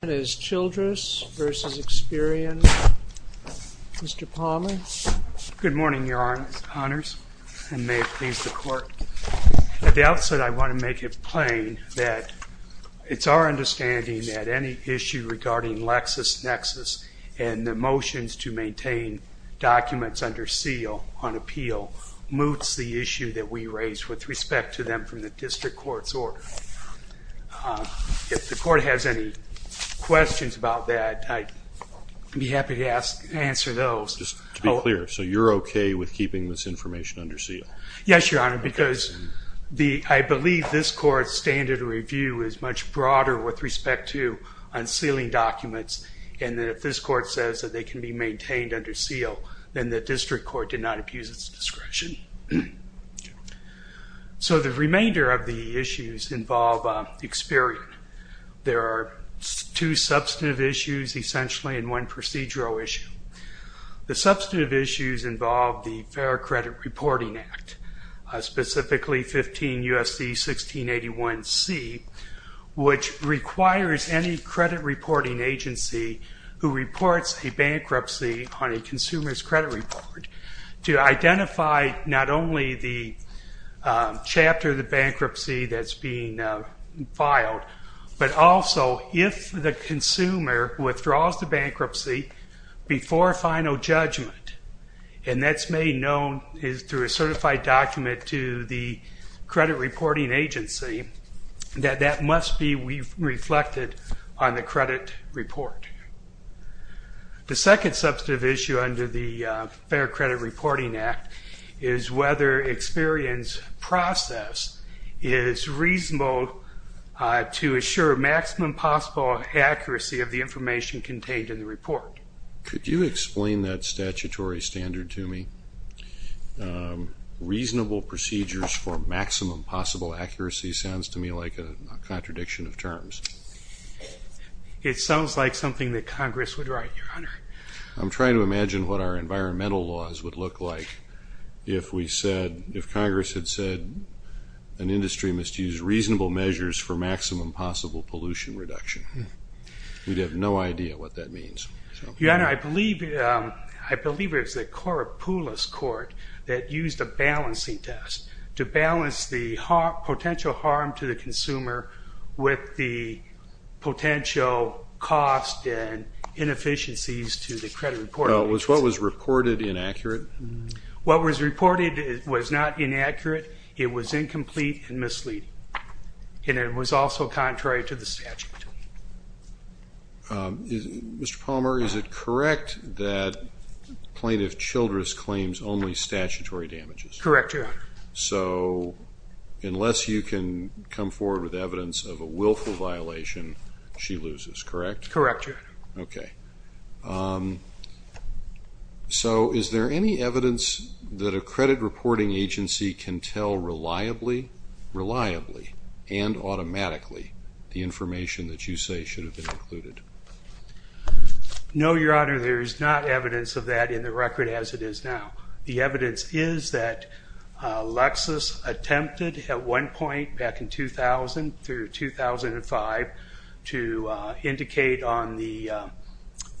That is Childress v. Experian. Mr. Palmer. Good morning, Your Honors, and may it please the Court. At the outset, I want to make it plain that it's our understanding that any issue regarding LexisNexis and the motions to maintain documents under seal on appeal moots the issue that we raise with respect to them from the District Court's order. If the Court has any questions about that, I'd be happy to answer those. Just to be clear, so you're okay with keeping this information under seal? Yes, Your Honor, because I believe this Court's standard review is much broader with respect to unsealing documents, and that if this Court says that they can be maintained under seal, then the District Court did not abuse its discretion. So the remainder of the issues involve Experian. There are two substantive issues, essentially, and one procedural issue. The substantive issues involve the Fair Credit Reporting Act, specifically 15 U.S.C. 1681c, which requires any credit reporting agency who reports a bankruptcy on a consumer's credit report to identify not only the chapter of the bankruptcy that's being filed, but also if the consumer withdraws the bankruptcy before a final judgment, and that's made known through a certified document to the credit reporting agency, that that must be reflected on the credit report. The second substantive issue under the Fair Credit Reporting Act is whether Experian's process is reasonable to assure maximum possible accuracy of the information contained in the report. Could you explain that statutory standard to me? Reasonable procedures for maximum possible accuracy sounds to me like a contradiction of terms. It sounds like something that Congress would write, Your Honor. I'm trying to imagine what our environmental laws would look like if we said, if Congress had said, an industry must use reasonable measures for maximum possible pollution reduction. We'd have no idea what that means. Your Honor, I believe it was the Koropoulos Court that used a balancing test to balance the potential harm to the consumer with the potential cost and inefficiencies to the credit reporting agency. Was what was reported inaccurate? What was reported was not inaccurate. It was incomplete and misleading, and it was also contrary to the statute. Mr. Palmer, is it correct that Plaintiff Childress claims only statutory damages? Correct, Your Honor. So unless you can come forward with evidence of a willful violation, she loses, correct? Correct, Your Honor. Okay. So is there any evidence that a credit reporting agency can tell reliably, reliably, and automatically, the information that you say should have been included? No, Your Honor, there is not evidence of that in the record as it is now. The evidence is that Lexis attempted at one point back in 2000 through 2005 to indicate on the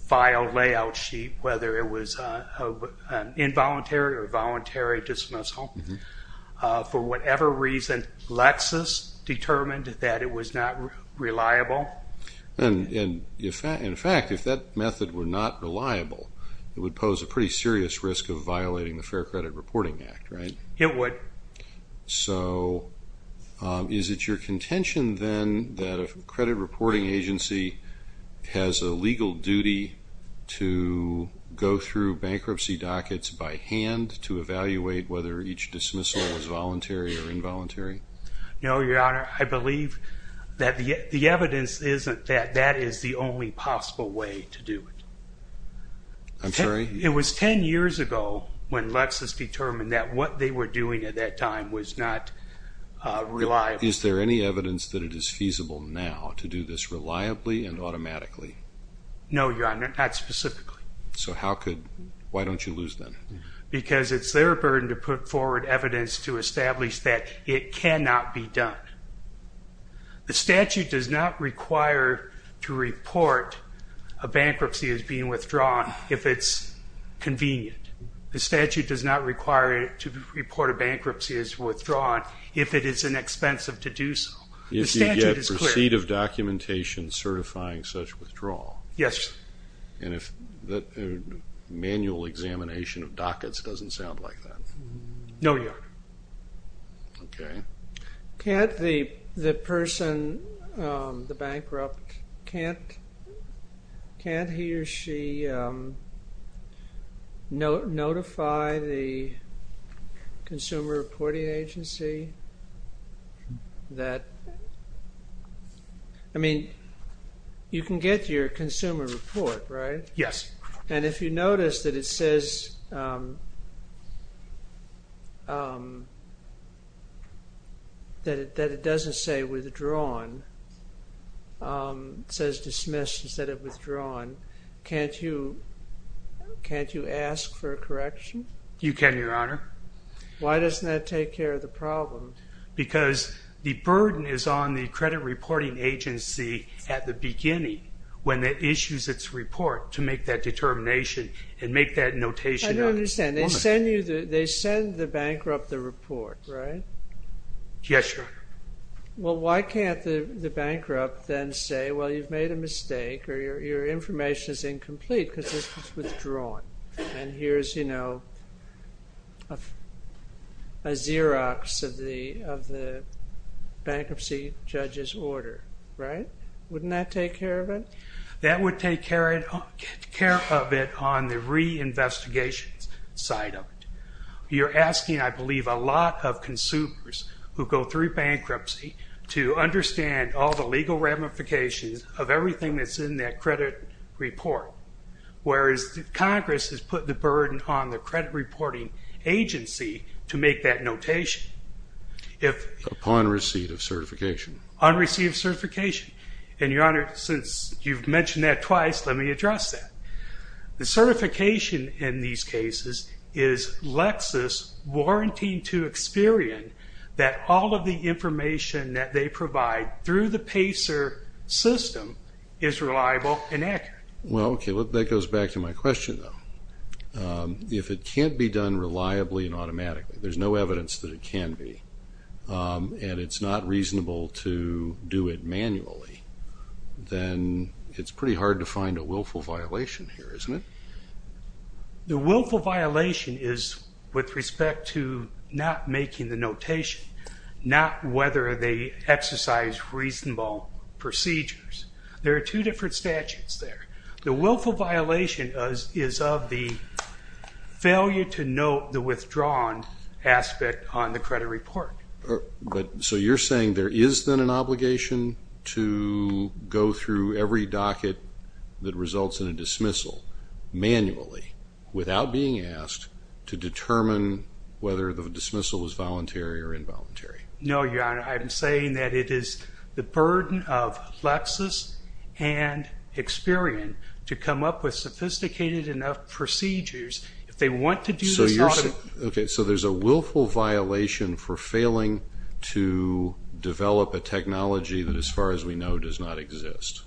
file layout sheet whether it was an involuntary or voluntary dismissal. For whatever reason, Lexis determined that it was not reliable. And in fact, if that method were not reliable, it would pose a pretty serious risk of violating the Fair Credit Reporting Act, right? It would. So is it your contention then that a credit reporting agency has a legal duty to go through bankruptcy dockets by hand to evaluate whether each dismissal was voluntary or involuntary? No, Your Honor. I believe that the evidence isn't that that is the only possible way to do it. I'm sorry? It was 10 years ago when Lexis determined that what they were doing at that time was not reliable. Is there any evidence that it is feasible now to do this reliably and automatically? No, Your Honor, not specifically. So why don't you lose then? Because it's their burden to put forward evidence to establish that it cannot be done. The statute does not require to report a bankruptcy as being withdrawn if it's convenient. The statute does not require to report a bankruptcy as withdrawn if it is inexpensive to do so. If you get receipt of documentation certifying such withdrawal? Yes. And if manual examination of dockets doesn't sound like that? No, Your Honor. Okay. Can't the person, the bankrupt, can't he or she notify the consumer reporting agency that, I mean, you can get your consumer report, right? Yes. And if you notice that it says that it doesn't say withdrawn, says dismissed instead of withdrawn, can't you ask for a correction? You can, Your Honor. Why doesn't that take care of the problem? Because the burden is on the credit reporting agency at the beginning when it issues its report to make that determination and make that notation of it. I don't understand. They send the bankrupt the report, right? Yes, Your Honor. Well, why can't the bankrupt then say, well, you've made a mistake or your information is incomplete because this was withdrawn. And here's, you know, a Xerox of the bankruptcy judge's order, right? Wouldn't that take care of it? That would take care of it on the reinvestigation side of it. You're asking, I believe, a lot of consumers who go through bankruptcy to understand all the legal ramifications of everything that's in that credit report, whereas Congress has put the burden on the credit reporting agency to make that notation. Upon receipt of certification. Upon receipt of certification. And, Your Honor, since you've mentioned that twice, let me address that. The certification in these cases is Lexis warranting to Experian that all of the information that they provide through the PACER system is reliable and accurate. Well, okay, that goes back to my question, though. If it can't be done reliably and automatically, there's no evidence that it can be, and it's not reasonable to do it manually, then it's pretty hard to find a willful violation here, isn't it? The willful violation is with respect to not making the notation, not whether they exercise reasonable procedures. There are two different statutes there. The willful violation is of the failure to note the withdrawn aspect on the credit report. So you're saying there is then an obligation to go through every docket that results in a dismissal manually without being asked to determine whether the dismissal was voluntary or involuntary. No, Your Honor. I'm saying that it is the burden of Lexis and Experian to come up with sophisticated enough procedures. If they want to do this automatically. Okay, so there's a willful violation for failing to develop a technology that, as far as we know, does not exist.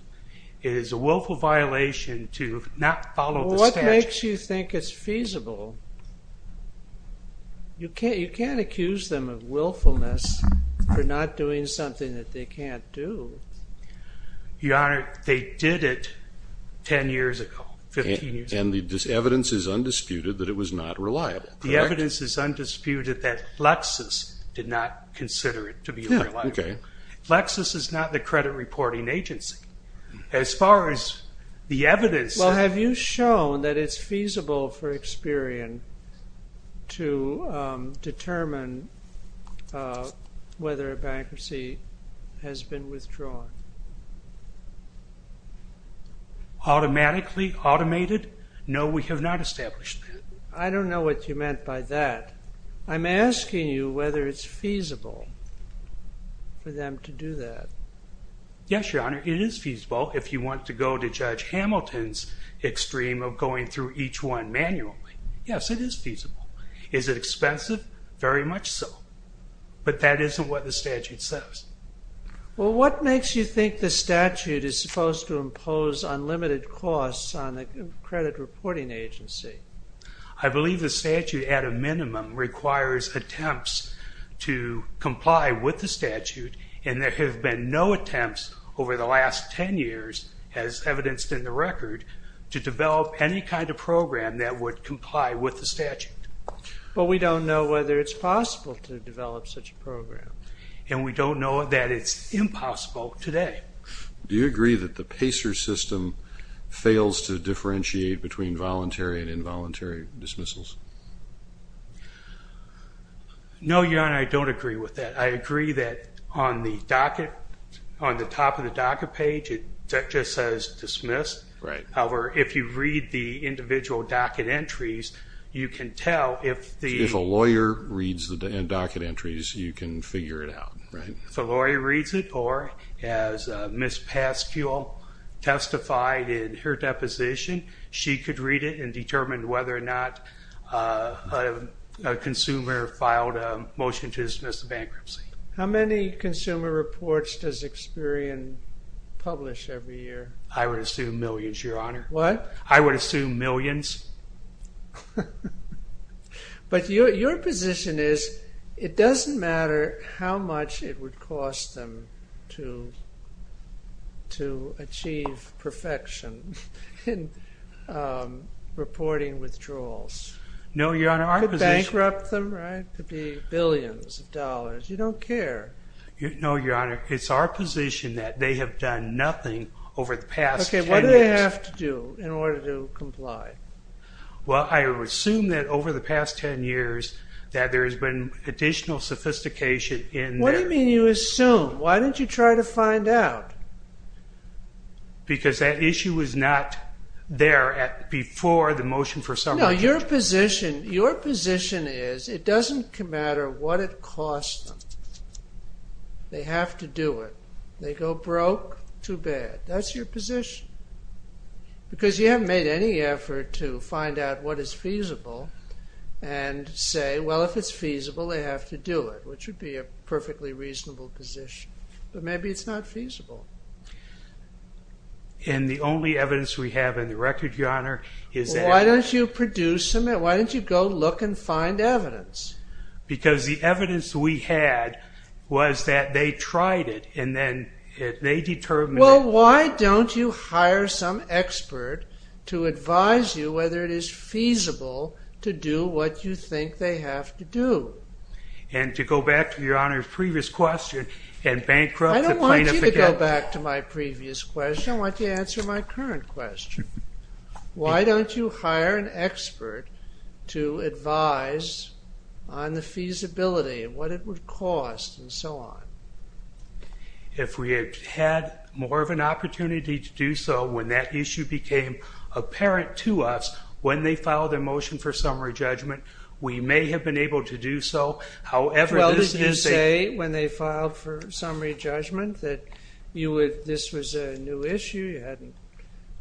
It is a willful violation to not follow the statute. What makes you think it's feasible? You can't accuse them of willfulness for not doing something that they can't do. Your Honor, they did it 10 years ago, 15 years ago. And the evidence is undisputed that it was not reliable, correct? The evidence is undisputed that Lexis did not consider it to be reliable. Lexis is not the credit reporting agency. As far as the evidence... Well, have you shown that it's feasible for Experian to determine whether a bankruptcy has been withdrawn? Automatically, automated? No, we have not established that. I don't know what you meant by that. I'm asking you whether it's feasible for them to do that. Yes, Your Honor, it is feasible if you want to go to Judge Hamilton's extreme of going through each one manually. Yes, it is feasible. Is it expensive? Very much so. But that isn't what the statute says. Well, what makes you think the statute is supposed to impose unlimited costs on a credit reporting agency? I believe the statute, at a minimum, requires attempts to comply with the statute, and there have been no attempts over the last 10 years, as evidenced in the record, to develop any kind of program that would comply with the statute. But we don't know whether it's possible to develop such a program. And we don't know that it's impossible today. Do you agree that the PACER system fails to differentiate between voluntary and involuntary dismissals? No, Your Honor, I don't agree with that. I agree that on the top of the docket page, it just says dismissed. However, if you read the individual docket entries, you can tell if the lawyer reads the docket entries, you can figure it out. If the lawyer reads it, or as Ms. Pascual testified in her deposition, she could read it and determine whether or not a consumer filed a motion to dismiss the bankruptcy. How many consumer reports does Experian publish every year? I would assume millions, Your Honor. What? I would assume millions. But your position is it doesn't matter how much it would cost them to achieve perfection in reporting withdrawals. No, Your Honor. It could bankrupt them, right? It could be billions of dollars. You don't care. No, Your Honor. It's our position that they have done nothing over the past 10 years. What do they have to do in order to comply? Well, I would assume that over the past 10 years that there has been additional sophistication in their... What do you mean you assume? Why don't you try to find out? Because that issue was not there before the motion for summary... No, your position is it doesn't matter what it costs them. They have to do it. They go broke, too bad. That's your position. Because you haven't made any effort to find out what is feasible and say, well, if it's feasible, they have to do it, which would be a perfectly reasonable position. But maybe it's not feasible. And the only evidence we have in the record, Your Honor, is that... Why don't you produce some evidence? Why don't you go look and find evidence? Because the evidence we had was that they tried it and then they determined... Well, why don't you hire some expert to advise you whether it is feasible to do what you think they have to do? And to go back to Your Honor's previous question and bankrupt the plaintiff again... I don't want you to go back to my previous question. I want you to answer my current question. Why don't you hire an expert to advise on the feasibility and what it would cost and so on? If we had had more of an opportunity to do so when that issue became apparent to us, when they filed their motion for summary judgment, we may have been able to do so. However, this is a... Well, didn't you say when they filed for summary judgment that this was a new issue you hadn't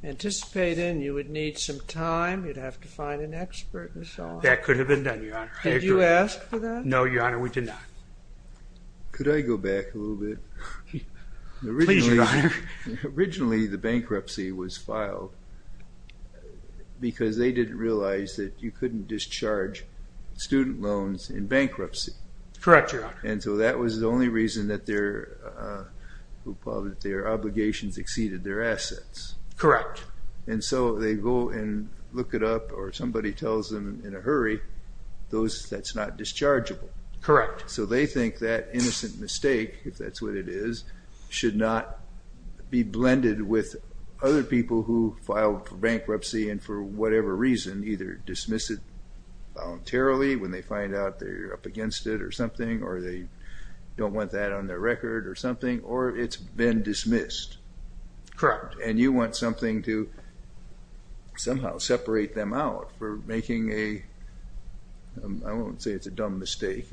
anticipated and you would need some time, you'd have to find an expert and so on? That could have been done, Your Honor. Did you ask for that? No, Your Honor, we did not. Could I go back a little bit? Please, Your Honor. Originally, the bankruptcy was filed because they didn't realize that you couldn't discharge student loans in bankruptcy. Correct, Your Honor. And so that was the only reason that their obligations exceeded their assets. Correct. And so they go and look it up or somebody tells them in a hurry that's not dischargeable. Correct. So they think that innocent mistake, if that's what it is, should not be blended with other people who filed for bankruptcy and for whatever reason, either dismiss it voluntarily when they find out they're up against it or something or they don't want that on their record or something, or it's been dismissed. Correct. And you want something to somehow separate them out for making a...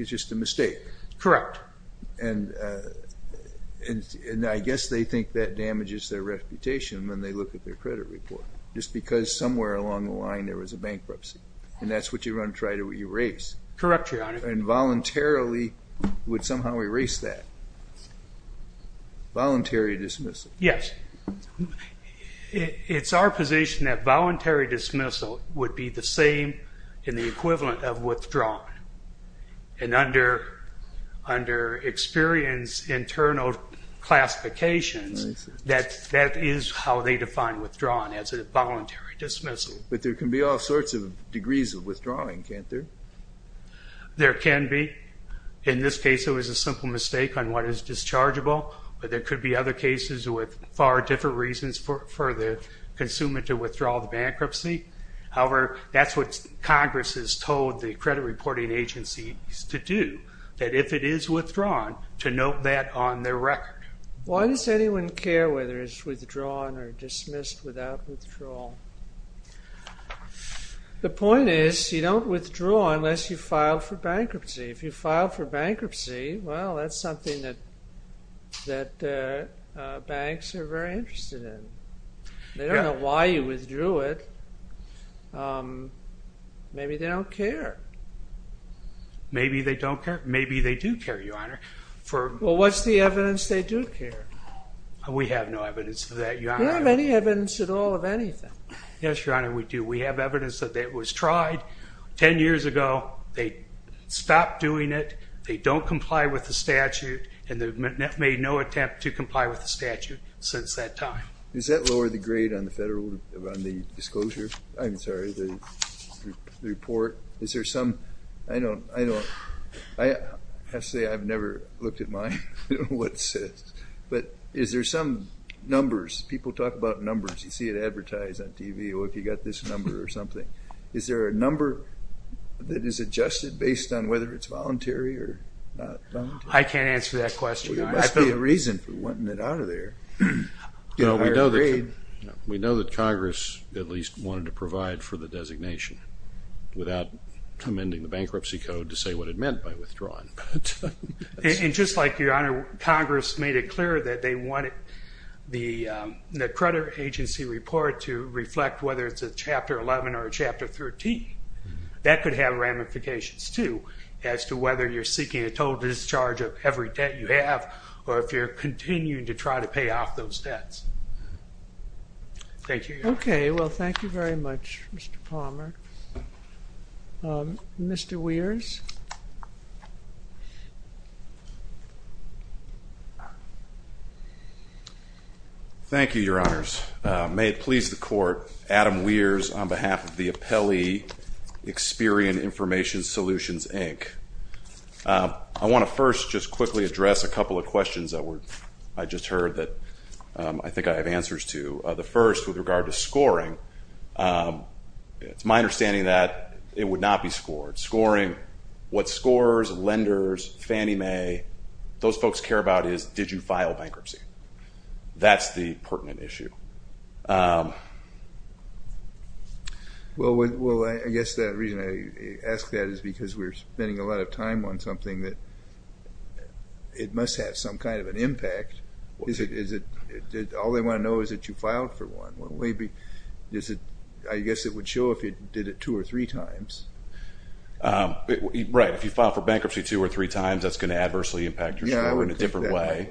just a mistake. Correct. And I guess they think that damages their reputation when they look at their credit report, just because somewhere along the line there was a bankruptcy and that's what you want to try to erase. Correct, Your Honor. And voluntarily would somehow erase that. Voluntary dismissal. Yes. It's our position that voluntary dismissal would be the same in the equivalent of withdrawing and under experience internal classifications, that is how they define withdrawing as a voluntary dismissal. But there can be all sorts of degrees of withdrawing, can't there? There can be. In this case it was a simple mistake on what is dischargeable, but there could be other cases with far different reasons for the consumer to withdraw the bankruptcy. However, that's what Congress has told the credit reporting agencies to do, that if it is withdrawn, to note that on their record. Why does anyone care whether it's withdrawn or dismissed without withdrawal? The point is you don't withdraw unless you file for bankruptcy. If you file for bankruptcy, well, that's something that banks are very interested in. They don't know why you withdrew it. Maybe they don't care. Maybe they don't care. Maybe they do care, Your Honor. Well, what's the evidence they do care? We have no evidence of that, Your Honor. You don't have any evidence at all of anything. Yes, Your Honor, we do. We have evidence that it was tried 10 years ago. They stopped doing it. They don't comply with the statute, and they've made no attempt to comply with the statute since that time. Is that lower the grade on the disclosure? I'm sorry, the report. Is there some – I have to say I've never looked at mine. I don't know what it says. But is there some numbers? People talk about numbers. You see it advertised on TV, oh, if you've got this number or something. Is there a number that is adjusted based on whether it's voluntary or not voluntary? I can't answer that question, Your Honor. There must be a reason for wanting it out of there. We know that Congress at least wanted to provide for the designation without amending the bankruptcy code to say what it meant by withdrawing. And just like, Your Honor, Congress made it clear that they wanted the credit agency report to reflect whether it's a Chapter 11 or a Chapter 13. That could have ramifications, too, as to whether you're seeking a total discharge of every debt you have or if you're continuing to try to pay off those debts. Thank you, Your Honor. Okay. Well, thank you very much, Mr. Palmer. Mr. Weers? Thank you, Your Honors. May it please the Court, Adam Weers, on behalf of the appellee Experian Information Solutions, Inc. I want to first just quickly address a couple of questions that I just heard that I think I have answers to. The first with regard to scoring, it's my understanding that it would not be scored. Scoring, what scorers, lenders, Fannie Mae, those folks care about is did you file bankruptcy? That's the pertinent issue. Well, I guess the reason I ask that is because we're spending a lot of time on something that it must have some kind of an impact. All they want to know is that you filed for one. I guess it would show if you did it two or three times. Right. If you filed for bankruptcy two or three times, that's going to adversely impact your score in a different way.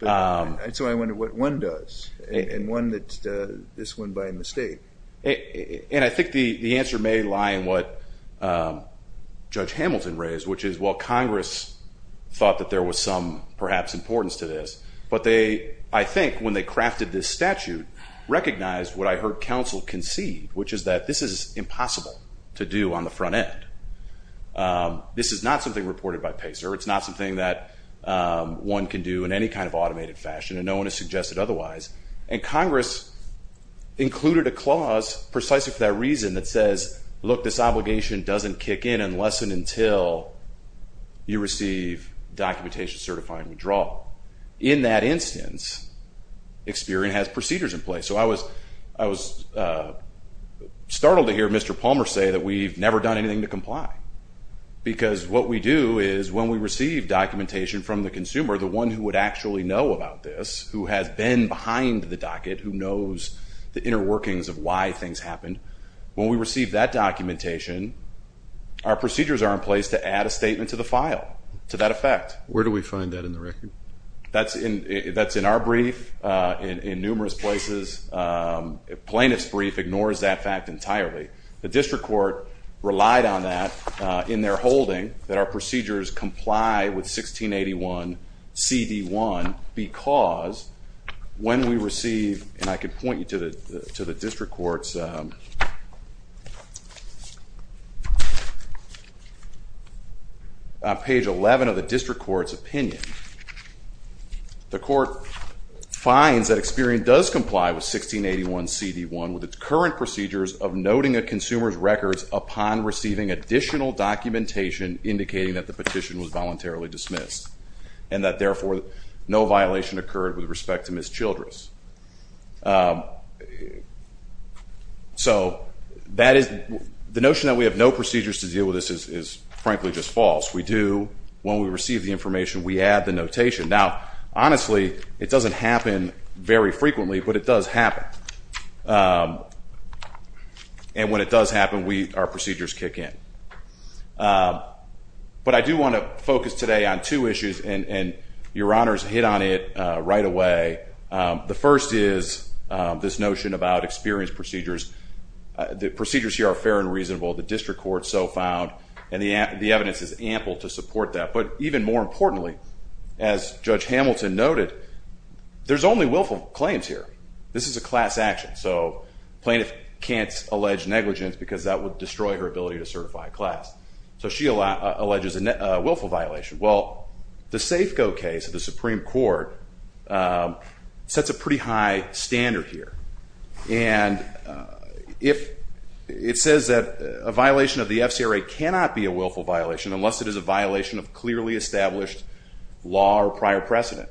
So I wonder what one does, and this one by mistake. I think the answer may lie in what Judge Hamilton raised, which is while Congress thought that there was some perhaps importance to this, but I think when they crafted this statute, recognized what I heard counsel concede, which is that this is impossible to do on the front end. This is not something reported by PACER. It's not something that one can do in any kind of automated fashion, and no one has suggested otherwise. And Congress included a clause precisely for that reason that says, look, this obligation doesn't kick in unless and until you receive documentation certifying withdrawal. In that instance, Experian has procedures in place. So I was startled to hear Mr. Palmer say that we've never done anything to comply because what we do is when we receive documentation from the consumer, the one who would actually know about this, who has been behind the docket, who knows the inner workings of why things happened, when we receive that documentation, our procedures are in place to add a statement to the file to that effect. Where do we find that in the record? That's in our brief, in numerous places. Plaintiff's brief ignores that fact entirely. The district court relied on that in their holding, that our procedures comply with 1681CD1 because when we receive, and I can point you to the district court's page 11 of the district court's opinion, the court finds that Experian does comply with 1681CD1 with its current procedures of noting a consumer's records upon receiving additional documentation indicating that the petition was voluntarily dismissed and that therefore no violation occurred with respect to Ms. Childress. So the notion that we have no procedures to deal with this is frankly just false. We do, when we receive the information, we add the notation. Now honestly, it doesn't happen very frequently, but it does happen. And when it does happen, our procedures kick in. But I do want to focus today on two issues, and Your Honors hit on it right away. The first is this notion about Experian's procedures. The procedures here are fair and reasonable. The district court so found, and the evidence is ample to support that. But even more importantly, as Judge Hamilton noted, there's only willful claims here. This is a class action, so plaintiff can't allege negligence because that would destroy her ability to certify a class. So she alleges a willful violation. Well, the Safeco case of the Supreme Court sets a pretty high standard here. And it says that a violation of the FCRA cannot be a willful violation unless it is a violation of clearly established law or prior precedent.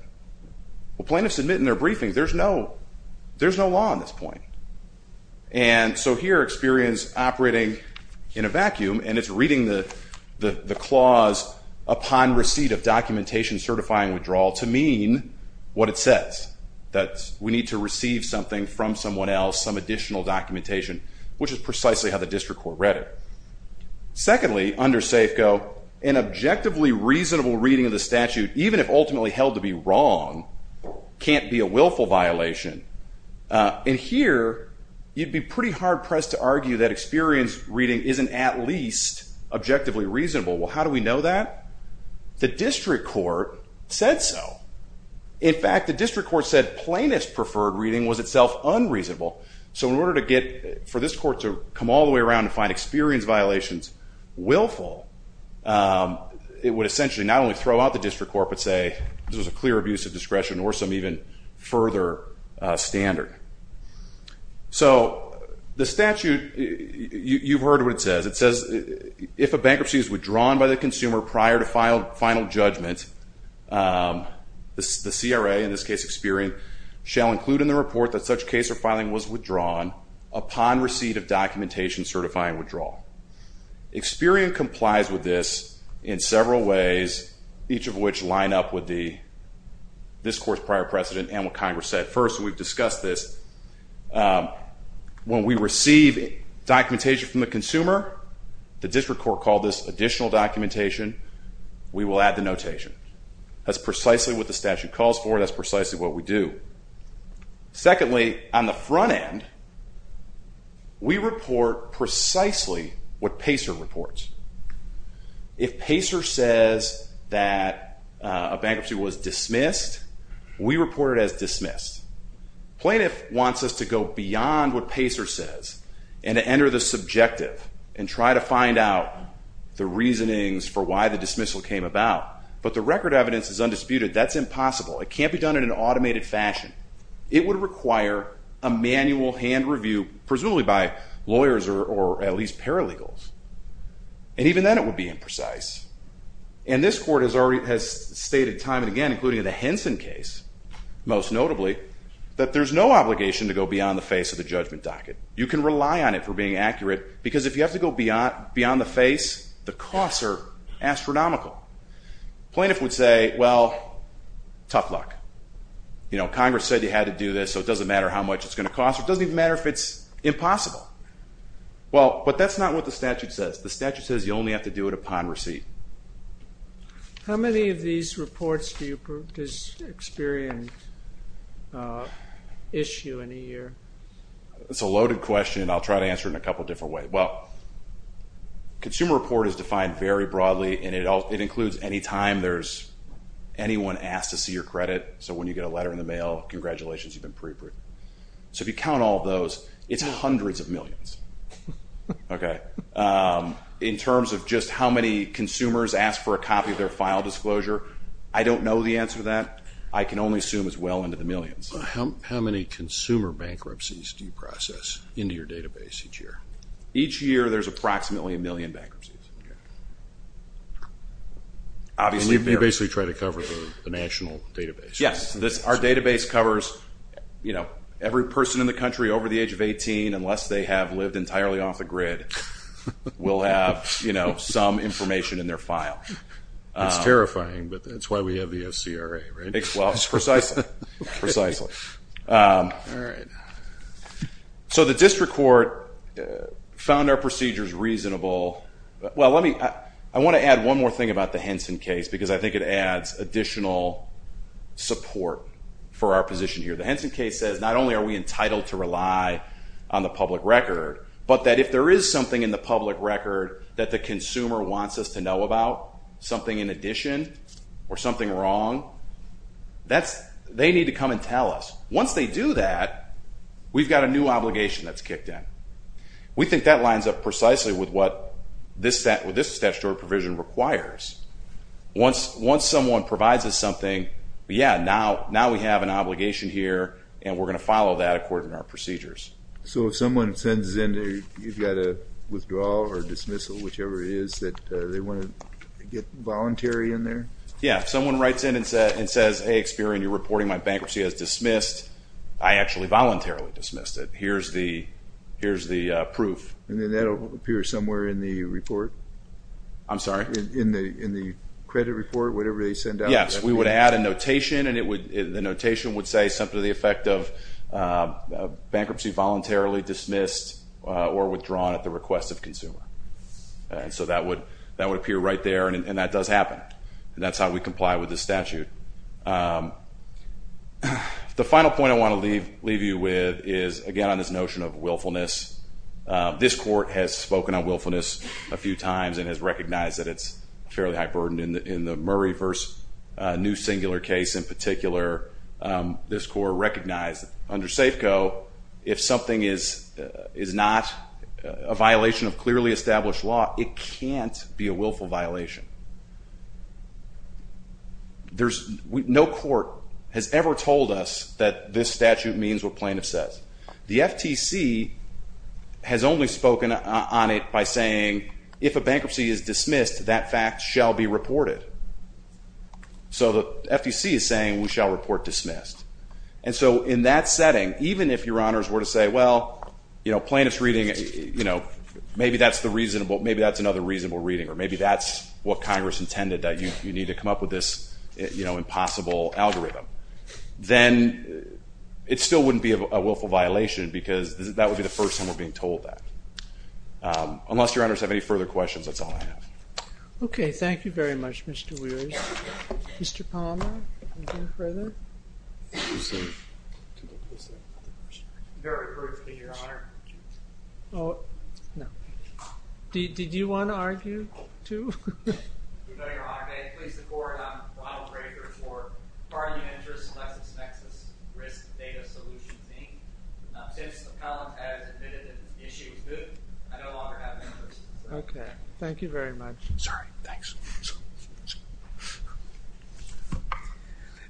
Well, plaintiffs admit in their briefing there's no law on this point. And so here Experian's operating in a vacuum, and it's reading the clause upon receipt of documentation certifying withdrawal to mean what it says, that we need to receive something from someone else, some additional documentation, which is precisely how the district court read it. Secondly, under Safeco, an objectively reasonable reading of the statute, even if ultimately held to be wrong, can't be a willful violation. And here you'd be pretty hard-pressed to argue that Experian's reading isn't at least objectively reasonable. Well, how do we know that? The district court said so. In fact, the district court said plaintiff's preferred reading was itself unreasonable. So in order for this court to come all the way around and find Experian's violations willful, it would essentially not only throw out the district court but say this was a clear abuse of discretion or some even further standard. So the statute, you've heard what it says. It says if a bankruptcy is withdrawn by the consumer prior to final judgment, the CRA, in this case Experian, shall include in the report that such case or filing was withdrawn upon receipt of documentation certifying withdrawal. Experian complies with this in several ways, each of which line up with this court's prior precedent and what Congress said. First, we've discussed this. When we receive documentation from the consumer, the district court called this additional documentation. We will add the notation. That's precisely what the statute calls for. That's precisely what we do. Secondly, on the front end, we report precisely what PACER reports. If PACER says that a bankruptcy was dismissed, we report it as dismissed. Plaintiff wants us to go beyond what PACER says and to enter the subjective and try to find out the reasonings for why the dismissal came about. But the record evidence is undisputed. That's impossible. It can't be done in an automated fashion. It would require a manual hand review, presumably by lawyers or at least paralegals, and even then it would be imprecise. And this court has stated time and again, including in the Henson case, most notably, that there's no obligation to go beyond the face of the judgment docket. You can rely on it for being accurate because if you have to go beyond the face, the costs are astronomical. Plaintiff would say, well, tough luck. Congress said you had to do this, so it doesn't matter how much it's going to cost. It doesn't even matter if it's impossible. But that's not what the statute says. The statute says you only have to do it upon receipt. How many of these reports do you experience issue in a year? It's a loaded question, and I'll try to answer it in a couple different ways. Well, consumer report is defined very broadly, and it includes any time there's anyone asked to see your credit. So when you get a letter in the mail, congratulations, you've been pre-approved. So if you count all of those, it's hundreds of millions. In terms of just how many consumers ask for a copy of their file disclosure, I don't know the answer to that. I can only assume it's well into the millions. How many consumer bankruptcies do you process into your database each year? Each year there's approximately a million bankruptcies. You basically try to cover the national database. Yes. Our database covers every person in the country over the age of 18, unless they have lived entirely off the grid, will have some information in their file. That's terrifying, but that's why we have the FCRA, right? Precisely. All right. So the district court found our procedures reasonable. Well, I want to add one more thing about the Henson case, because I think it adds additional support for our position here. The Henson case says not only are we entitled to rely on the public record, but that if there is something in the public record that the consumer wants us to know about, something in addition or something wrong, they need to come and tell us. Once they do that, we've got a new obligation that's kicked in. We think that lines up precisely with what this statutory provision requires. Once someone provides us something, yeah, now we have an obligation here, and we're going to follow that according to our procedures. So if someone sends in, you've got a withdrawal or dismissal, whichever it is that they want to get voluntary in there? Yeah, if someone writes in and says, hey, Experian, you're reporting my bankruptcy as dismissed, I actually voluntarily dismissed it. Here's the proof. And then that will appear somewhere in the report? I'm sorry? In the credit report, whatever they send out? Yes, we would add a notation, and the notation would say something to the effect of bankruptcy voluntarily dismissed or withdrawn at the request of consumer. So that would appear right there, and that does happen. That's how we comply with the statute. The final point I want to leave you with is, again, on this notion of willfulness. This Court has spoken on willfulness a few times and has recognized that it's a fairly high burden. In the Murray v. New Singular case in particular, this Court recognized under Safeco, if something is not a violation of clearly established law, it can't be a willful violation. No court has ever told us that this statute means what plaintiff says. The FTC has only spoken on it by saying, if a bankruptcy is dismissed, that fact shall be reported. So the FTC is saying we shall report dismissed. And so in that setting, even if Your Honors were to say, well, plaintiff's reading, maybe that's another reasonable reading, or maybe that's what Congress intended, that you need to come up with this impossible algorithm, then it still wouldn't be a willful violation because that would be the first time we're being told that. Unless Your Honors have any further questions, that's all I have. Okay, thank you very much, Mr. Weares. Mr. Palmer, anything further? Very briefly, Your Honor. Oh, no. Did you want to argue, too? No, Your Honor. May it please the Court, I'm Ronald Craker for the Bargain Interest and LexisNexis Risk Data Solution team. Since the column has admitted that the issue is good, I no longer have an interest. Okay. Thank you very much. Sorry. Thanks.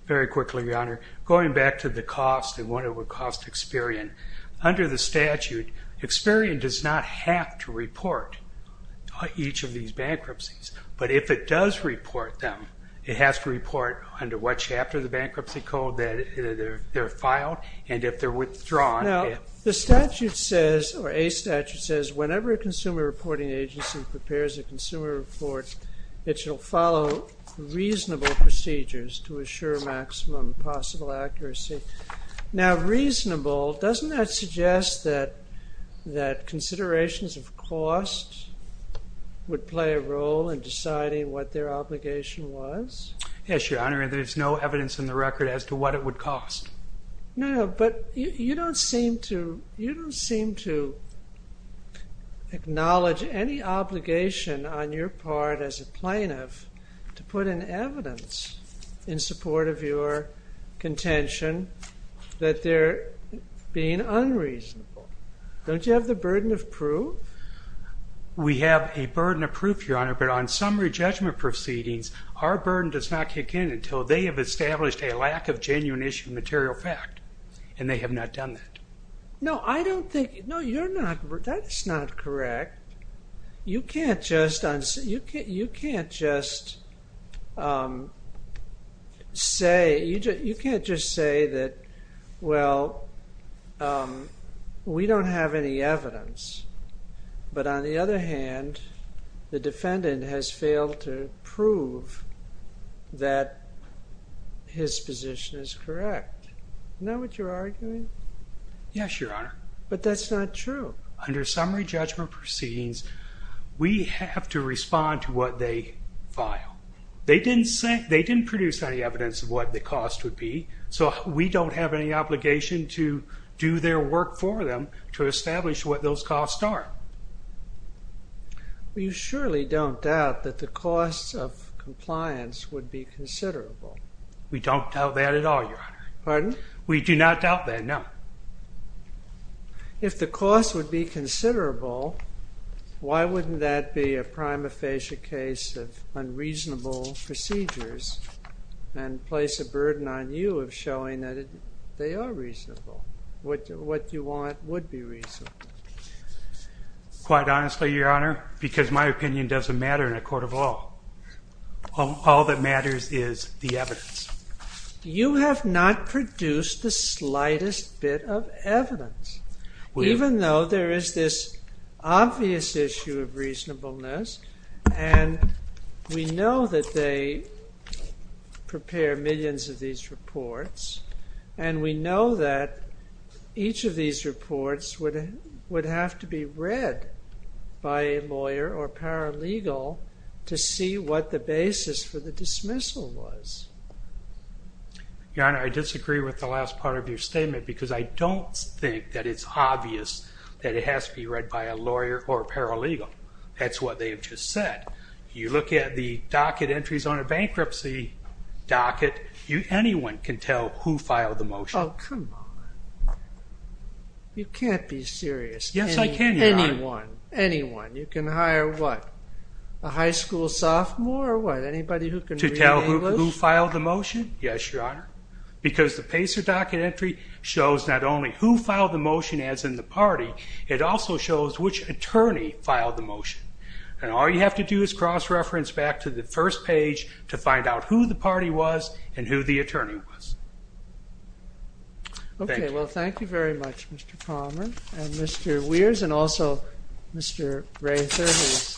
Very quickly, Your Honor. Going back to the cost and what it would cost Experian, under the statute Experian does not have to report each of these bankruptcies. But if it does report them, it has to report under what chapter of the bankruptcy code they're filed, and if they're withdrawn. Now, the statute says, or a statute says, whenever a consumer reporting agency prepares a consumer report, it shall follow reasonable procedures to assure maximum possible accuracy. Now, reasonable, doesn't that suggest that considerations of cost would play a role in deciding what their obligation was? Yes, Your Honor. There's no evidence in the record as to what it would cost. No, but you don't seem to acknowledge any obligation on your part as a plaintiff to put in evidence in support of your contention that they're being unreasonable. Don't you have the burden of proof? We have a burden of proof, Your Honor, but on summary judgment proceedings our burden does not kick in until they have established a lack of genuine issue material fact, and they have not done that. No, I don't think, no, you're not, that's not correct. You can't just, you can't just say, you can't just say that, well, we don't have any evidence, but on the other hand, the defendant has failed to prove that his position is correct. Isn't that what you're arguing? Yes, Your Honor. But that's not true. Under summary judgment proceedings, we have to respond to what they file. They didn't produce any evidence of what the cost would be, so we don't have any obligation to do their work for them to establish what those costs are. You surely don't doubt that the cost of compliance would be considerable. We don't doubt that at all, Your Honor. Pardon? We do not doubt that, no. If the cost would be considerable, why wouldn't that be a prima facie case of unreasonable procedures and place a burden on you of showing that they are reasonable? What you want would be reasonable. Quite honestly, Your Honor, because my opinion doesn't matter in a court of law. All that matters is the evidence. You have not produced the slightest bit of evidence, even though there is this obvious issue of reasonableness, and we know that they prepare millions of these reports, and we know that each of these reports would have to be read by a lawyer or paralegal to see what the basis for the dismissal was. Your Honor, I disagree with the last part of your statement because I don't think that it's obvious that it has to be read by a lawyer or a paralegal. That's what they have just said. You look at the docket entries on a bankruptcy docket, anyone can tell who filed the motion. Oh, come on. You can't be serious. Yes, I can, Your Honor. Anyone. Anyone. You can hire what? A high school sophomore or what? Anybody who can read English? To tell who filed the motion? Yes, Your Honor. Because the PACER docket entry shows not only who filed the motion as in the party, it also shows which attorney filed the motion. And all you have to do is cross-reference back to the first page to find out who the party was and who the attorney was. Thank you. Okay. Well, thank you very much, Mr. Palmer and Mr. Weers, and also Mr. Rather, who is denied his.